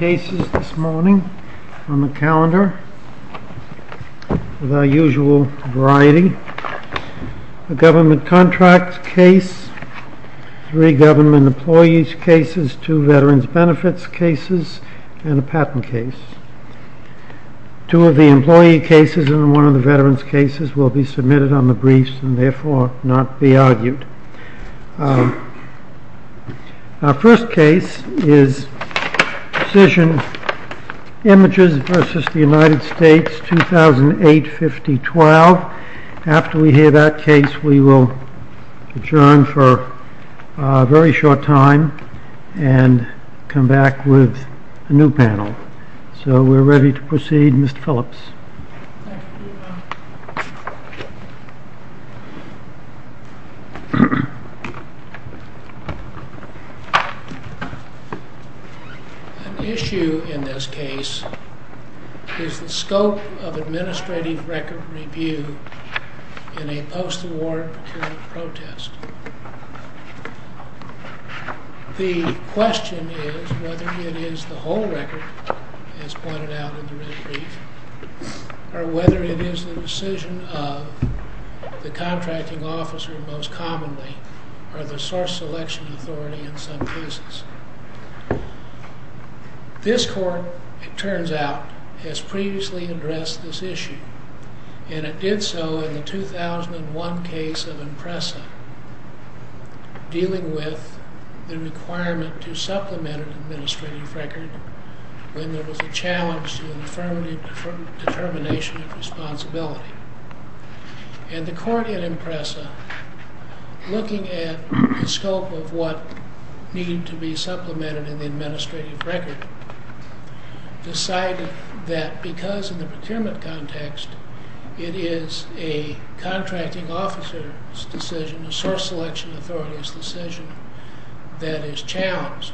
We have three cases this morning on the calendar of our usual variety. A government contract case, three government employees cases, two veterans benefits cases, and a patent case. Two of the employee cases and one of the veterans cases will be submitted on the briefs and therefore not be argued. Our first case is Precision Images v. United States, 2008-2012. After we hear that case we will adjourn for a very short time and come back with a new panel. So we are ready to proceed, Mr. Phillips. An issue in this case is the scope of administrative record review in a post-award procurement protest. The question is whether it is the whole record, as pointed out in the red brief, or whether it is the decision of the contracting officer most commonly or the source selection authority in some cases. This court, it turns out, has previously addressed this issue. And it did so in the 2001 case of IMPRESA, dealing with the requirement to supplement an administrative record when there was a challenge to the affirmative determination of responsibility. And the court in IMPRESA, looking at the scope of what needed to be supplemented in the administrative record, decided that because in the procurement context it is a contracting officer's decision, a source selection authority's decision, that is challenged.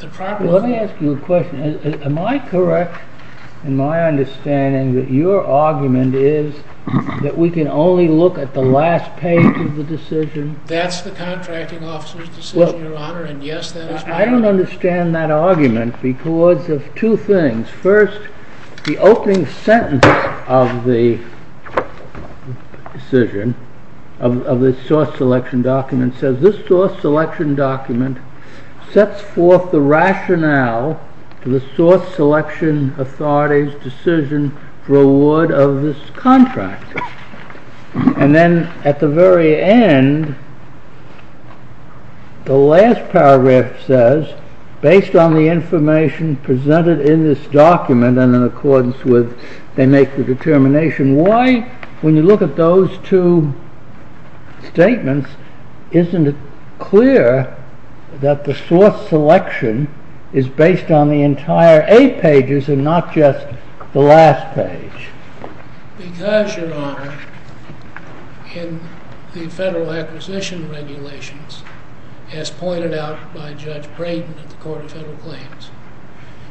Let me ask you a question. Am I correct in my understanding that your argument is that we can only look at the last page of the decision? That's the contracting officer's decision, Your Honor, and yes, that is correct. I don't understand that argument because of two things. First, the opening sentence of the decision, of the source selection document, says this source selection document sets forth the rationale to the source selection authority's decision for award of this contract. And then, at the very end, the last paragraph says, based on the information presented in this document and in accordance with, they make the determination. Why, when you look at those two statements, isn't it clear that the source selection is based on the entire eight pages and not just the last page? Because, Your Honor, in the federal acquisition regulations, as pointed out by Judge Braden at the Court of Federal Claims,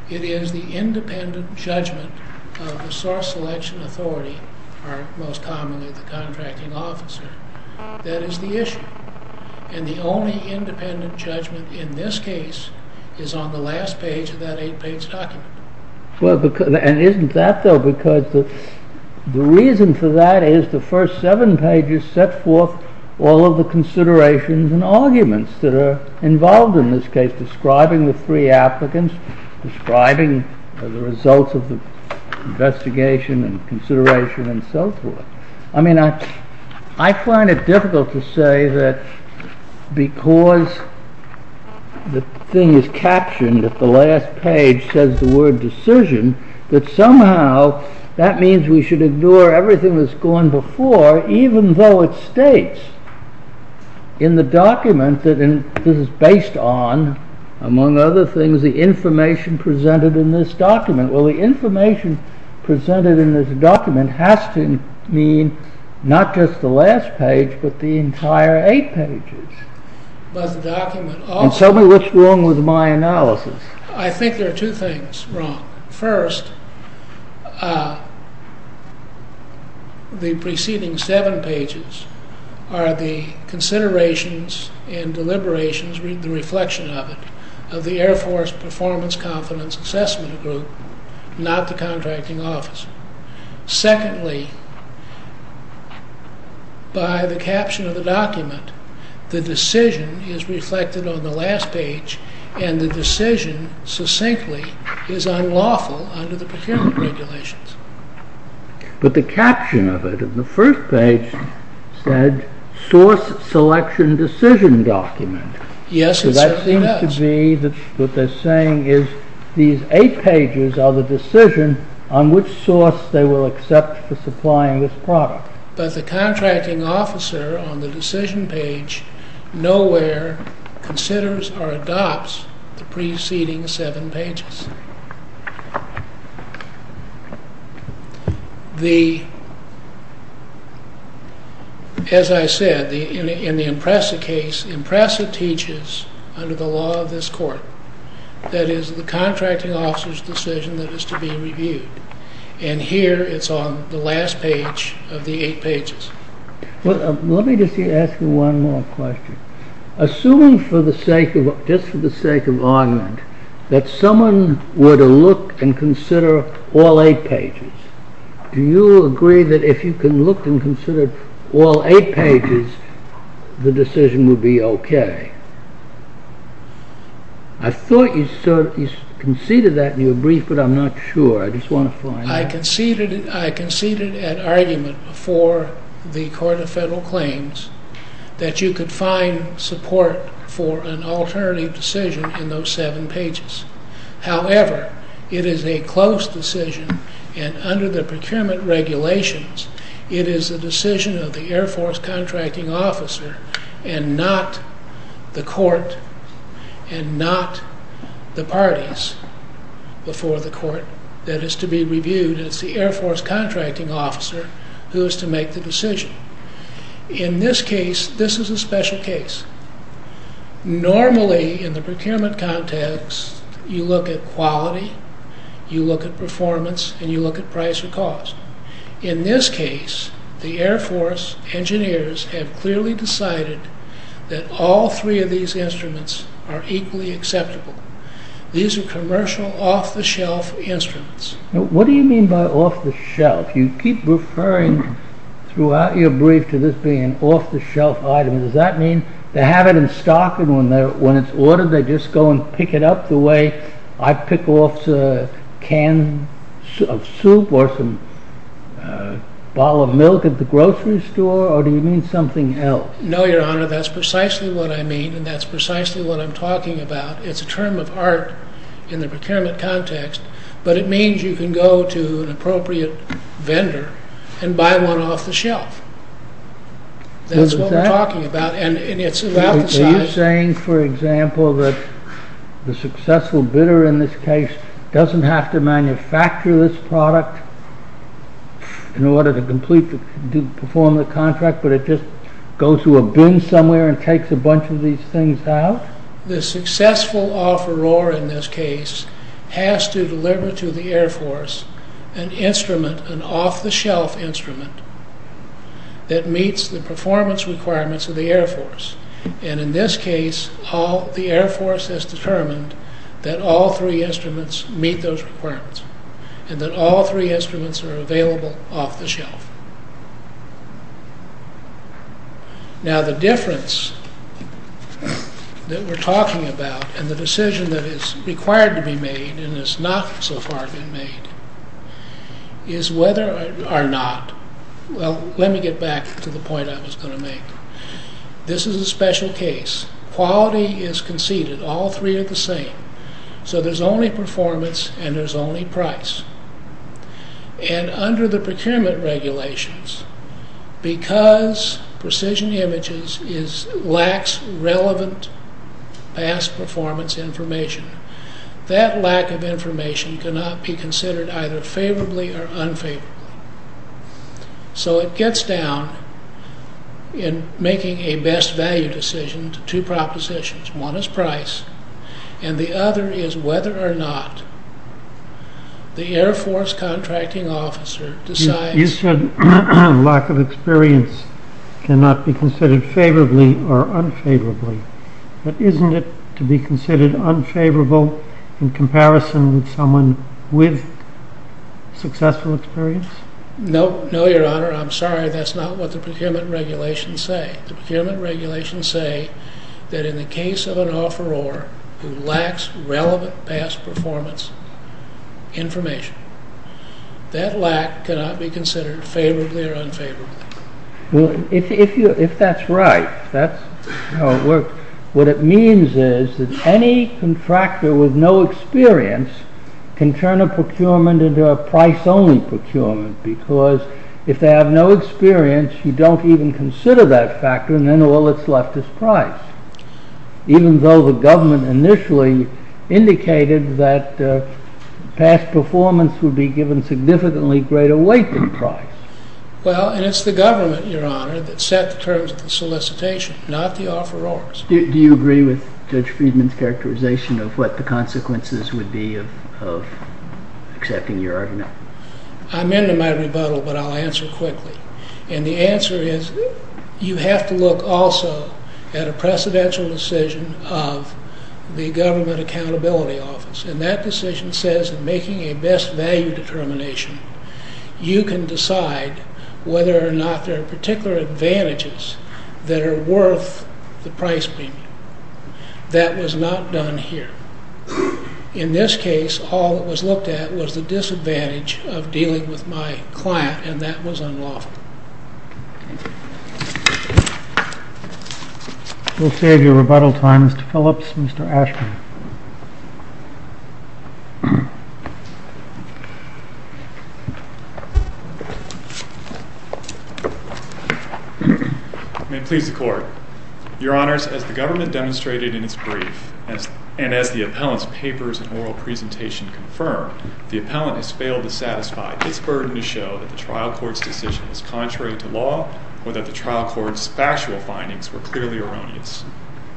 it is the independent judgment of the source selection authority, or most commonly the contracting officer, that is the issue. And the only independent judgment in this case is on the last page of that eight page document. And isn't that, though, because the reason for that is the first seven pages set forth all of the considerations and arguments that are involved in this case, describing the three applicants, describing the results of the investigation and consideration and so forth. I mean, I find it difficult to say that because the thing is captioned at the last page says the word decision, that somehow that means we should ignore everything that's gone before, even though it states in the document that this is based on, among other things, the information presented in this document. Well, the information presented in this document has to mean not just the last page, but the entire eight pages. And tell me what's wrong with my analysis. I think there are two things wrong. First, the preceding seven pages are the considerations and deliberations, the reflection of it, as a performance confidence assessment group, not the contracting officer. Secondly, by the caption of the document, the decision is reflected on the last page, and the decision succinctly is unlawful under the procurement regulations. But the caption of it in the first page said source selection decision document. Yes, it certainly does. It has to be that what they're saying is these eight pages are the decision on which source they will accept for supplying this product. But the contracting officer on the decision page nowhere considers or adopts the preceding seven pages. As I said, in the Impressa case, Impressa teaches under the law of this court that it is the contracting officer's decision that is to be reviewed. And here it's on the last page of the eight pages. Well, let me just ask you one more question. Assuming, just for the sake of argument, that someone were to look and consider all eight pages, do you agree that if you can look and consider all eight pages, the decision would be okay? I thought you conceded that in your brief, but I'm not sure. I just want to find out. for the Court of Federal Claims that you could find support for an alternative decision in those seven pages. However, it is a close decision, and under the procurement regulations, it is the decision of the Air Force contracting officer and not the court and not the parties before the court that is to be reviewed. It's the Air Force contracting officer who is to make the decision. In this case, this is a special case. Normally, in the procurement context, you look at quality, you look at performance, and you look at price or cost. In this case, the Air Force engineers have clearly decided that all three of these instruments are equally acceptable. These are commercial, off-the-shelf instruments. What do you mean by off-the-shelf? You keep referring throughout your brief to this being an off-the-shelf item. Does that mean they have it in stock, and when it's ordered, they just go and pick it up the way I pick off a can of soup or some bottle of milk at the grocery store, or do you mean something else? No, Your Honor, that's precisely what I mean, and that's precisely what I'm talking about. It's a term of art in the procurement context, but it means you can go to an appropriate vendor and buy one off-the-shelf. That's what we're talking about, and it's about the size... Are you saying, for example, that the successful bidder in this case doesn't have to manufacture this product in order to perform the contract, but it just goes to a bin somewhere and takes a bunch of these things out? The successful offeror in this case has to deliver to the Air Force an instrument, an off-the-shelf instrument that meets the performance requirements of the Air Force, and in this case, the Air Force has determined that all three instruments meet those requirements and that all three instruments are available off the shelf. Now, the difference that we're talking about and the decision that is required to be made and has not so far been made is whether or not... Well, let me get back to the point I was going to make. This is a special case. Quality is conceded. All three are the same, so there's only performance and there's only price, and under the procurement regulations, because Precision Images lacks relevant past performance information, that lack of information cannot be considered either favorably or unfavorably. So it gets down in making a best value decision to two propositions. One is price, and the other is whether or not the Air Force contracting officer decides... You said lack of experience cannot be considered favorably or unfavorably, but isn't it to be considered unfavorable in comparison with someone with successful experience? No, Your Honor, I'm sorry. That's not what the procurement regulations say. The procurement regulations say that in the case of an offeror who lacks relevant past performance information, that lack cannot be considered favorably or unfavorably. Well, if that's right, what it means is that any contractor with no experience can turn a procurement into a price-only procurement, because if they have no experience, you don't even consider that factor, and then all that's left is price, even though the government initially indicated that past performance would be given significantly greater weight than price. Well, and it's the government, Your Honor, that set the terms of the solicitation, not the offerors. Do you agree with Judge Friedman's characterization of what the consequences would be of accepting your argument? I'm into my rebuttal, but I'll answer quickly. And the answer is you have to look also at a precedential decision of the government accountability office, and that decision says that making a best value determination, you can decide whether or not there are particular advantages that are worth the price premium. That was not done here. In this case, all that was looked at was the disadvantage of dealing with my client, and that was unlawful. We'll save your rebuttal time, Mr. Phillips. Mr. Ashman. Your Honors, as the government demonstrated in its brief, and as the appellant's papers and oral presentation confirmed, the appellant has failed to satisfy its burden to show that the trial court's decision is contrary to law or that the trial court's factual findings were clearly erroneous.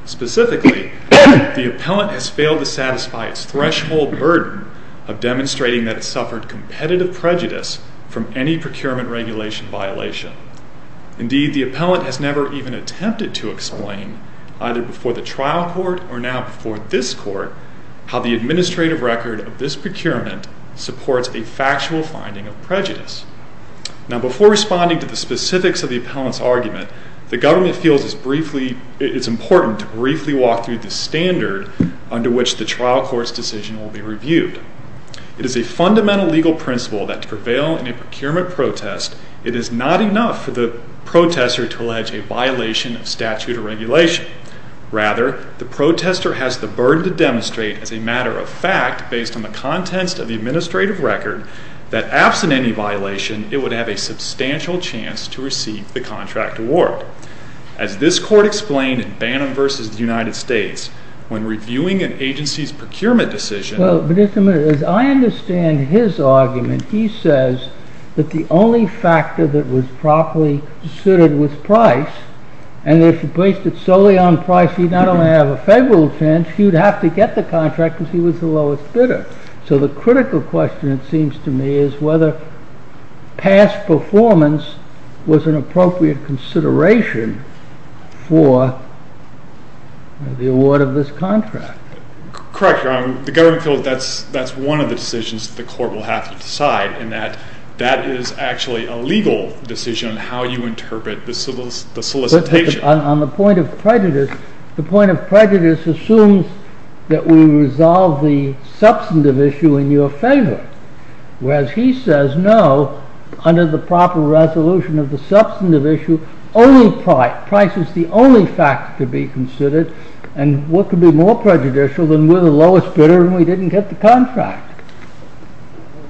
Specifically, the appellant has failed to satisfy its threshold burden of demonstrating that it suffered competitive prejudice from any procurement regulation violation. Indeed, the appellant has never even attempted to explain, either before the trial court or now before this court, how the administrative record of this procurement supports a factual finding of prejudice. Now, before responding to the specifics of the appellant's argument, the government feels it's important to briefly walk through the standard under which the trial court's decision will be reviewed. It is a fundamental legal principle that to prevail in a procurement protest, it is not enough for the protester to allege a violation of statute or regulation. Rather, the protester has the burden to demonstrate as a matter of fact, based on the contents of the administrative record, that absent any violation, it would have a substantial chance to receive the contract award. As this court explained in Bannon v. The United States, when reviewing an agency's procurement decision... ...the only factor that was properly suited was price. And if you placed it solely on price, you'd not only have a favorable chance, you'd have to get the contract because he was the lowest bidder. So the critical question, it seems to me, is whether past performance was an appropriate consideration for the award of this contract. Correct, Your Honor. The government feels that's one of the decisions the court will have to decide, in that that is actually a legal decision on how you interpret the solicitation. On the point of prejudice, the point of prejudice assumes that we resolve the substantive issue in your favor. Whereas he says no, under the proper resolution of the substantive issue, only price. Price is the only factor to be considered. And what could be more prejudicial than we're the lowest bidder and we didn't get the contract?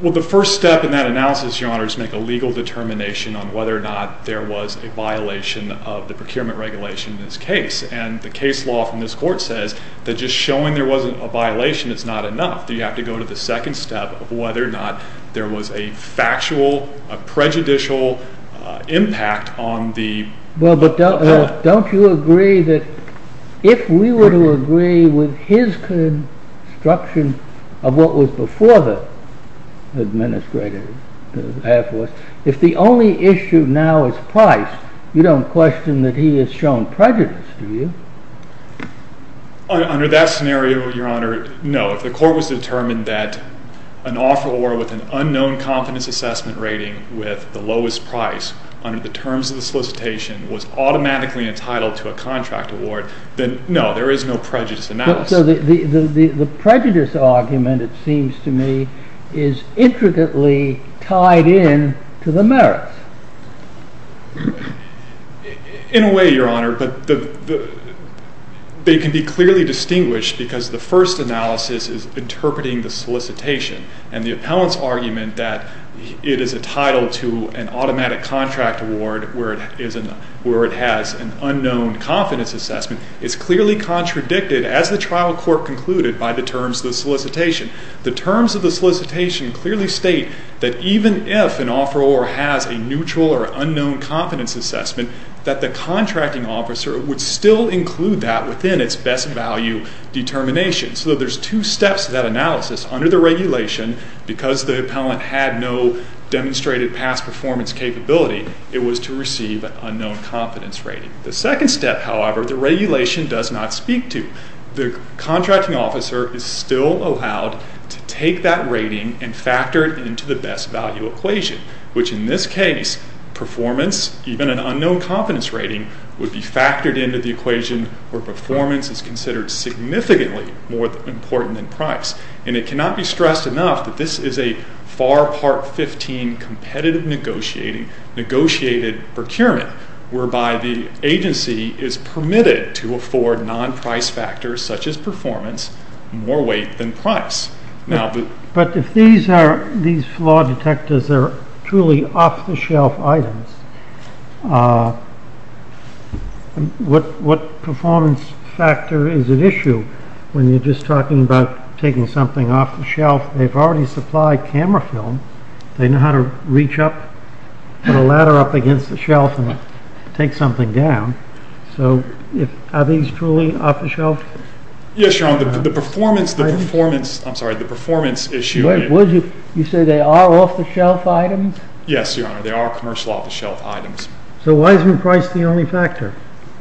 Well, the first step in that analysis, Your Honor, is to make a legal determination on whether or not there was a violation of the procurement regulation in this case. And the case law from this court says that just showing there wasn't a violation is not enough. You have to go to the second step of whether or not there was a factual, prejudicial impact on the... Well, but don't you agree that if we were to agree with his construction of what was before the administrative air force, if the only issue now is price, you don't question that he has shown prejudice, do you? Under that scenario, Your Honor, no. But if the court was to determine that an offeror with an unknown confidence assessment rating with the lowest price under the terms of the solicitation was automatically entitled to a contract award, then no, there is no prejudice analysis. So the prejudice argument, it seems to me, is intricately tied in to the merits. In a way, Your Honor, they can be clearly distinguished because the first analysis is interpreting the solicitation and the appellant's argument that it is entitled to an automatic contract award where it has an unknown confidence assessment is clearly contradicted as the trial court concluded by the terms of the solicitation. The terms of the solicitation clearly state that even if an offeror has a neutral or unknown confidence assessment, that the contracting officer would still include that within its best value determination. So there's two steps to that analysis. Under the regulation, because the appellant had no demonstrated past performance capability, it was to receive an unknown confidence rating. The second step, however, the regulation does not speak to. The contracting officer is still allowed to take that rating and factor it into the best value equation, which in this case, performance, even an unknown confidence rating, would be factored into the equation where performance is considered significantly more important than price. And it cannot be stressed enough that this is a FAR Part 15 competitive negotiated procurement, whereby the agency is permitted to afford non-price factors such as performance more weight than price. But if these flaw detectors are truly off-the-shelf items, what performance factor is at issue when you're just talking about taking something off the shelf? They've already supplied camera film. They know how to reach up, put a ladder up against the shelf, and take something down. So are these truly off-the-shelf? Yes, Your Honor. The performance, I'm sorry, the performance issue. You say they are off-the-shelf items? Yes, Your Honor. They are commercial off-the-shelf items. So why isn't price the only factor?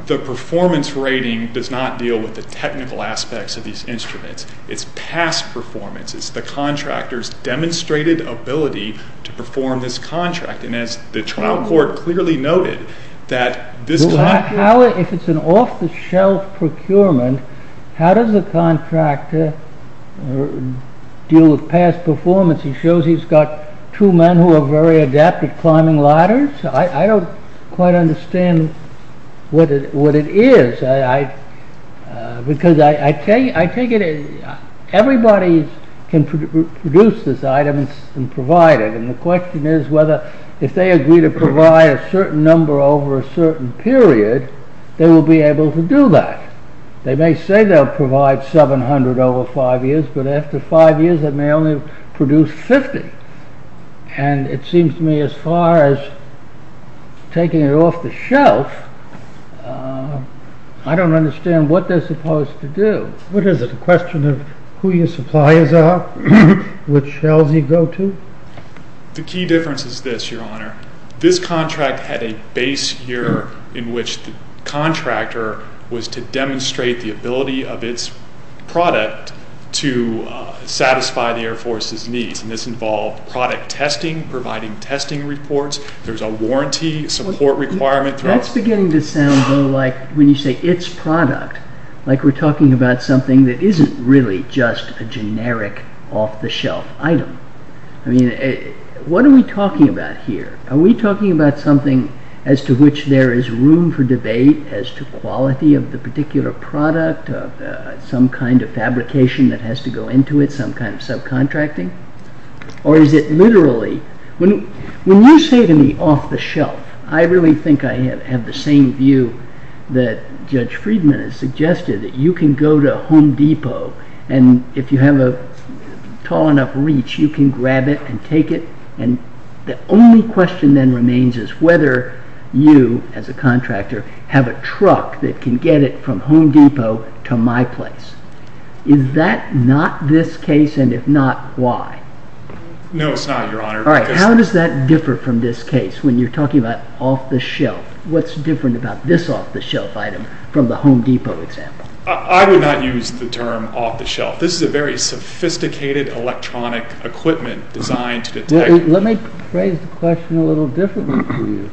The performance rating does not deal with the technical aspects of these instruments. It's past performance. It's the contractor's demonstrated ability to perform this contract. And as the trial court clearly noted, that this contract... If it's an off-the-shelf procurement, how does the contractor deal with past performance? He shows he's got two men who are very adept at climbing ladders. I don't quite understand what it is. Because I take it everybody can produce this item and provide it. And the question is whether if they agree to provide a certain number over a certain period, they will be able to do that. They may say they'll provide 700 over five years, but after five years they may only produce 50. And it seems to me as far as taking it off-the-shelf, I don't understand what they're supposed to do. What is it? The question of who your suppliers are, which shelves you go to? The key difference is this, Your Honor. This contract had a base year in which the contractor was to demonstrate the ability of its product to satisfy the Air Force's needs. And this involved product testing, providing testing reports. There's a warranty support requirement. That's beginning to sound, though, like when you say its product, like we're talking about something that isn't really just a generic off-the-shelf item. I mean, what are we talking about here? Are we talking about something as to which there is room for debate as to quality of the particular product, some kind of fabrication that has to go into it, some kind of subcontracting? Or is it literally? When you say to me off-the-shelf, I really think I have the same view that Judge Friedman has suggested, that you can go to Home Depot, and if you have a tall enough reach, you can grab it and take it. And the only question then remains is whether you, as a contractor, have a truck that can get it from Home Depot to my place. Is that not this case, and if not, why? No, it's not, Your Honor. How does that differ from this case when you're talking about off-the-shelf? What's different about this off-the-shelf item from the Home Depot example? I would not use the term off-the-shelf. This is a very sophisticated electronic equipment designed to detect... Let me phrase the question a little differently to you.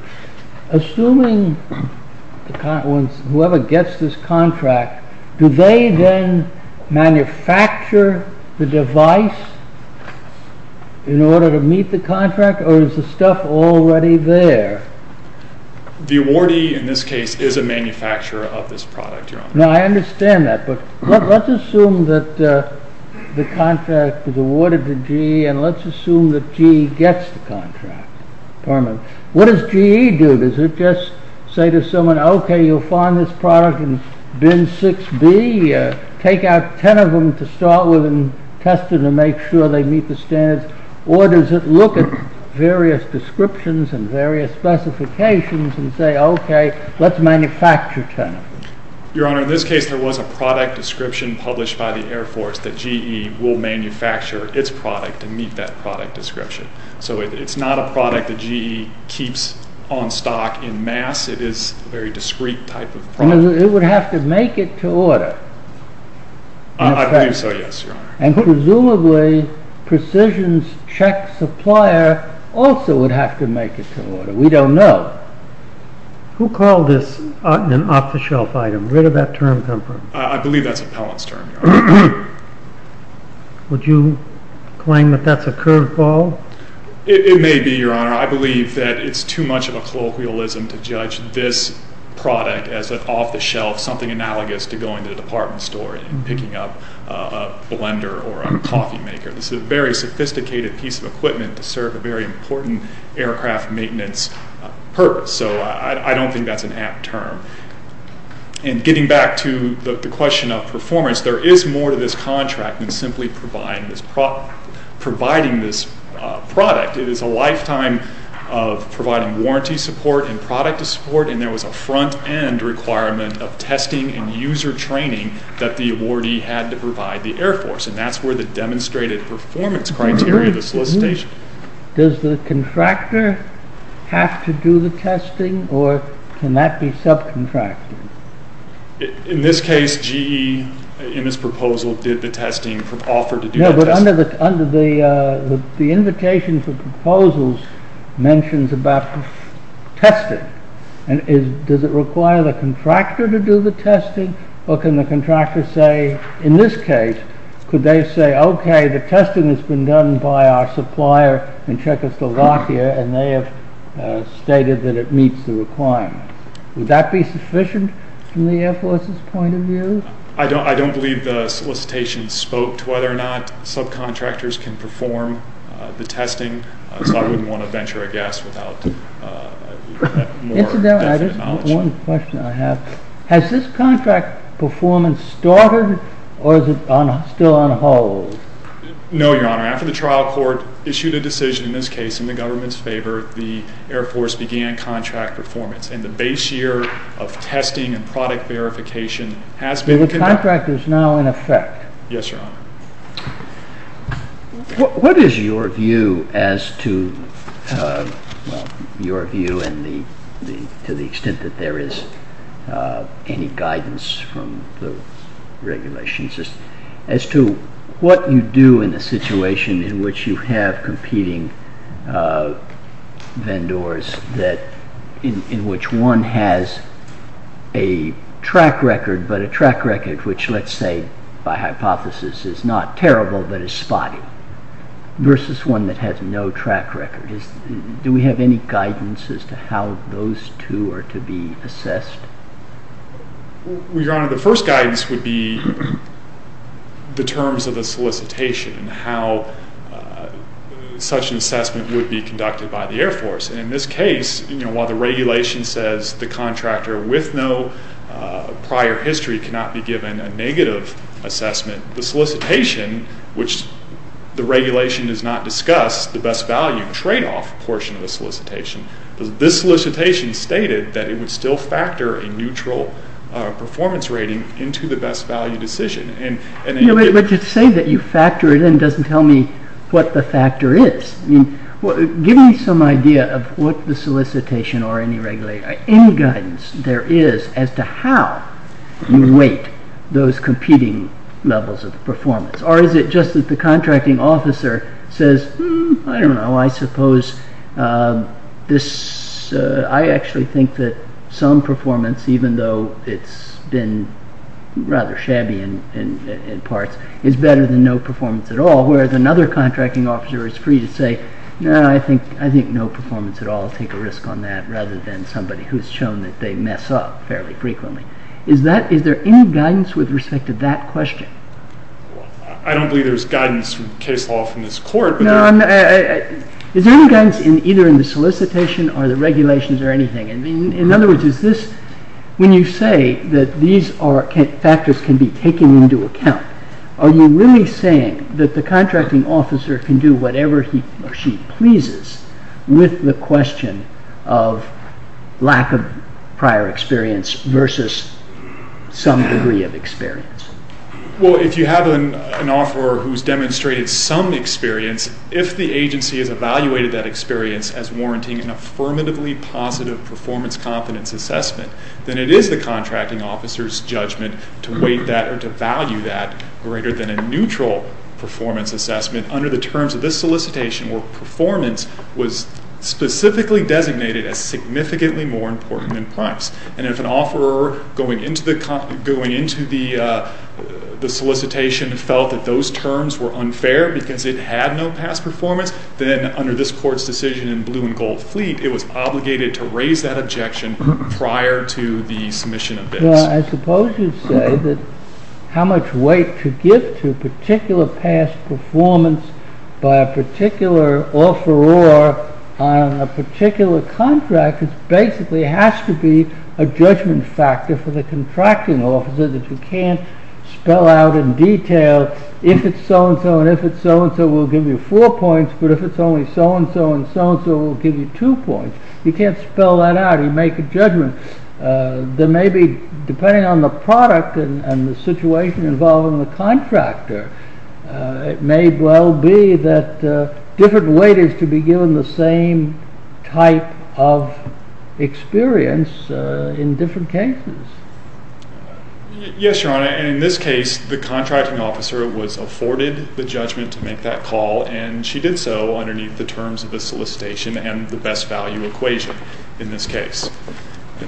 Assuming whoever gets this contract, do they then manufacture the device in order to meet the contract, or is the stuff already there? The awardee, in this case, is a manufacturer of this product, Your Honor. Now, I understand that, but let's assume that the contract is awarded to G, and let's assume that G gets the contract. What does G.E. do? Does it just say to someone, OK, you'll find this product in bin 6B? Take out ten of them to start with and test them to make sure they meet the standards, or does it look at various descriptions and various specifications and say, OK, let's manufacture ten of them? Your Honor, in this case, there was a product description published by the Air Force that G.E. will manufacture its product to meet that product description. So it's not a product that G.E. keeps on stock en masse. It is a very discreet type of product. It would have to make it to order. I believe so, yes, Your Honor. And presumably, Precision's check supplier also would have to make it to order. We don't know. Who called this an off-the-shelf item? Where did that term come from? I believe that's appellant's term, Your Honor. Would you claim that that's a curveball? It may be, Your Honor. I believe that it's too much of a colloquialism to judge this product as an off-the-shelf, something analogous to going to the department store and picking up a blender or a coffee maker. This is a very sophisticated piece of equipment to serve a very important aircraft maintenance purpose. So I don't think that's an apt term. And getting back to the question of performance, there is more to this contract than simply providing this product. It is a lifetime of providing warranty support and product support, and there was a front-end requirement of testing and user training that the awardee had to provide the Air Force, and that's where the demonstrated performance criteria of the solicitation. Does the contractor have to do the testing, or can that be subcontracted? In this case, GE, in this proposal, did the testing, offered to do the testing. No, but under the invitation for proposals mentions about testing, does it require the contractor to do the testing, or can the contractor say, in this case, could they say, okay, the testing has been done by our supplier in Czechoslovakia, and they have stated that it meets the requirements. Would that be sufficient from the Air Force's point of view? I don't believe the solicitation spoke to whether or not subcontractors can perform the testing, so I wouldn't want to venture a guess without more knowledge. Incidentally, I just have one question I have. Has this contract performance started, or is it still on hold? No, Your Honor. After the trial court issued a decision, in this case in the government's favor, the Air Force began contract performance, and the base year of testing and product verification has been conducted. So the contract is now in effect. Yes, Your Honor. What is your view, to the extent that there is any guidance from the regulations, as to what you do in a situation in which you have competing vendors in which one has a track record, but a track record which, let's say by hypothesis, is not terrible but is spotty, versus one that has no track record? Do we have any guidance as to how those two are to be assessed? Well, Your Honor, the first guidance would be the terms of the solicitation and how such an assessment would be conducted by the Air Force. In this case, while the regulation says the contractor with no prior history cannot be given a negative assessment, the solicitation, which the regulation does not discuss, the best value tradeoff portion of the solicitation, this solicitation stated that it would still factor a neutral performance rating into the best value decision. But to say that you factor it in doesn't tell me what the factor is. Give me some idea of what the solicitation or any guidance there is as to how you weight those competing levels of performance. Or is it just that the contracting officer says, I don't know, I suppose I actually think that some performance, even though it's been rather shabby in parts, is better than no performance at all, whereas another contracting officer is free to say, no, I think no performance at all, I'll take a risk on that, rather than somebody who's shown that they mess up fairly frequently. Is there any guidance with respect to that question? I don't believe there's guidance from case law from this Court. Is there any guidance either in the solicitation or the regulations or anything? In other words, when you say that these factors can be taken into account, are you really saying that the contracting officer can do whatever she pleases with the question of lack of prior experience versus some degree of experience? Well, if you have an offeror who's demonstrated some experience, if the agency has evaluated that experience as warranting an affirmatively positive performance competence assessment, then it is the contracting officer's judgment to weight that or to value that greater than a neutral performance assessment under the terms of this solicitation where performance was specifically designated as significantly more important than price. And if an offeror going into the solicitation felt that those terms were unfair because it had no past performance, then under this Court's decision in Blue and Gold Fleet, it was obligated to raise that objection prior to the submission of this. I suppose you'd say that how much weight to give to particular past performance by a particular offeror on a particular contract basically has to be a judgment factor for the contracting officer that you can't spell out in detail if it's so-and-so and if it's so-and-so will give you four points, but if it's only so-and-so and so-and-so will give you two points. You can't spell that out. You make a judgment. Then maybe depending on the product and the situation involving the contractor, it may well be that different weight is to be given the same type of experience in different cases. Yes, Your Honor, and in this case the contracting officer was afforded the judgment to make that call, and she did so underneath the terms of the solicitation and the best value equation in this case.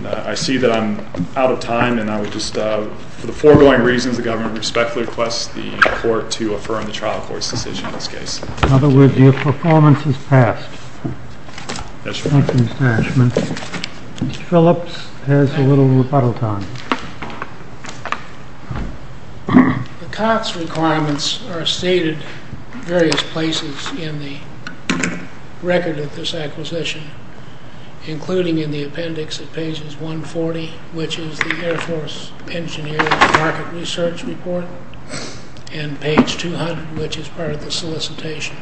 I see that I'm out of time, and I would just, for the foregoing reasons, the government respectfully request the court to affirm the trial court's decision in this case. In other words, your performance is passed. Thank you, Mr. Ashman. Mr. Phillips has a little rebuttal time. The COTS requirements are stated in various places in the record of this acquisition, including in the appendix at pages 140, which is the Air Force Engineer's Market Research Report, and page 200, which is part of the solicitation.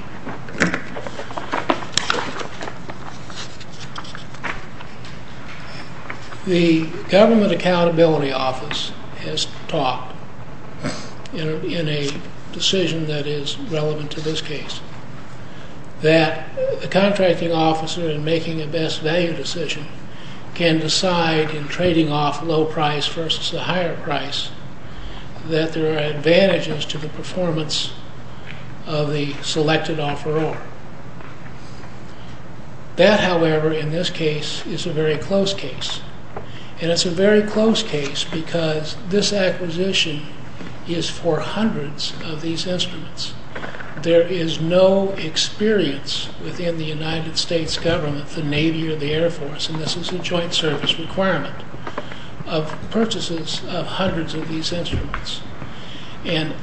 The Government Accountability Office has talked in a decision that is relevant to this case that the contracting officer, in making a best value decision, can decide in trading off low price versus the higher price that there are advantages to the performance of the selected offeror. That, however, in this case, is a very close case, and it's a very close case because this acquisition is for hundreds of these instruments. There is no experience within the United States Government, the Navy, or the Air Force, and this is a joint service requirement, of purchases of hundreds of these instruments. And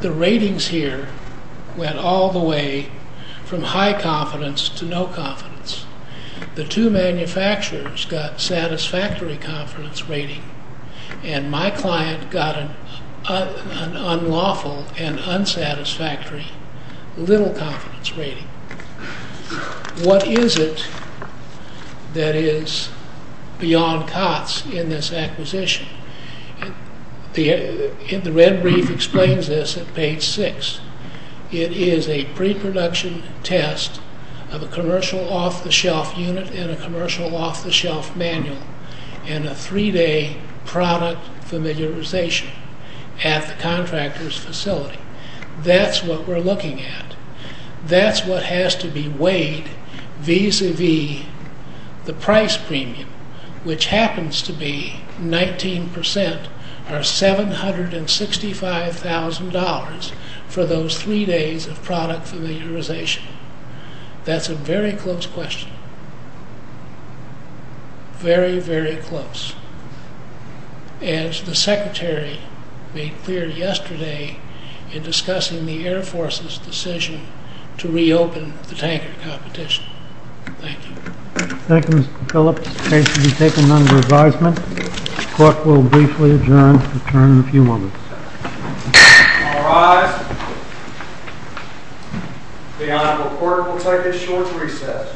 the ratings here went all the way from high confidence to no confidence. The two manufacturers got satisfactory confidence rating, and my client got an unlawful and unsatisfactory little confidence rating. What is it that is beyond COTS in this acquisition? The red brief explains this at page 6. It is a pre-production test of a commercial off-the-shelf unit and a commercial off-the-shelf manual, and a three-day product familiarization at the contractor's facility. That's what we're looking at. That's what has to be weighed vis-a-vis the price premium, which happens to be 19% or $765,000 for those three days of product familiarization. That's a very close question. Very, very close. And the Secretary made clear yesterday in discussing the Air Force's decision to reopen the tanker competition. Thank you. Thank you, Mr. Phillips. The case will be taken under advisement. The court will briefly adjourn and return in a few moments. All rise. The honorable court will take a short recess.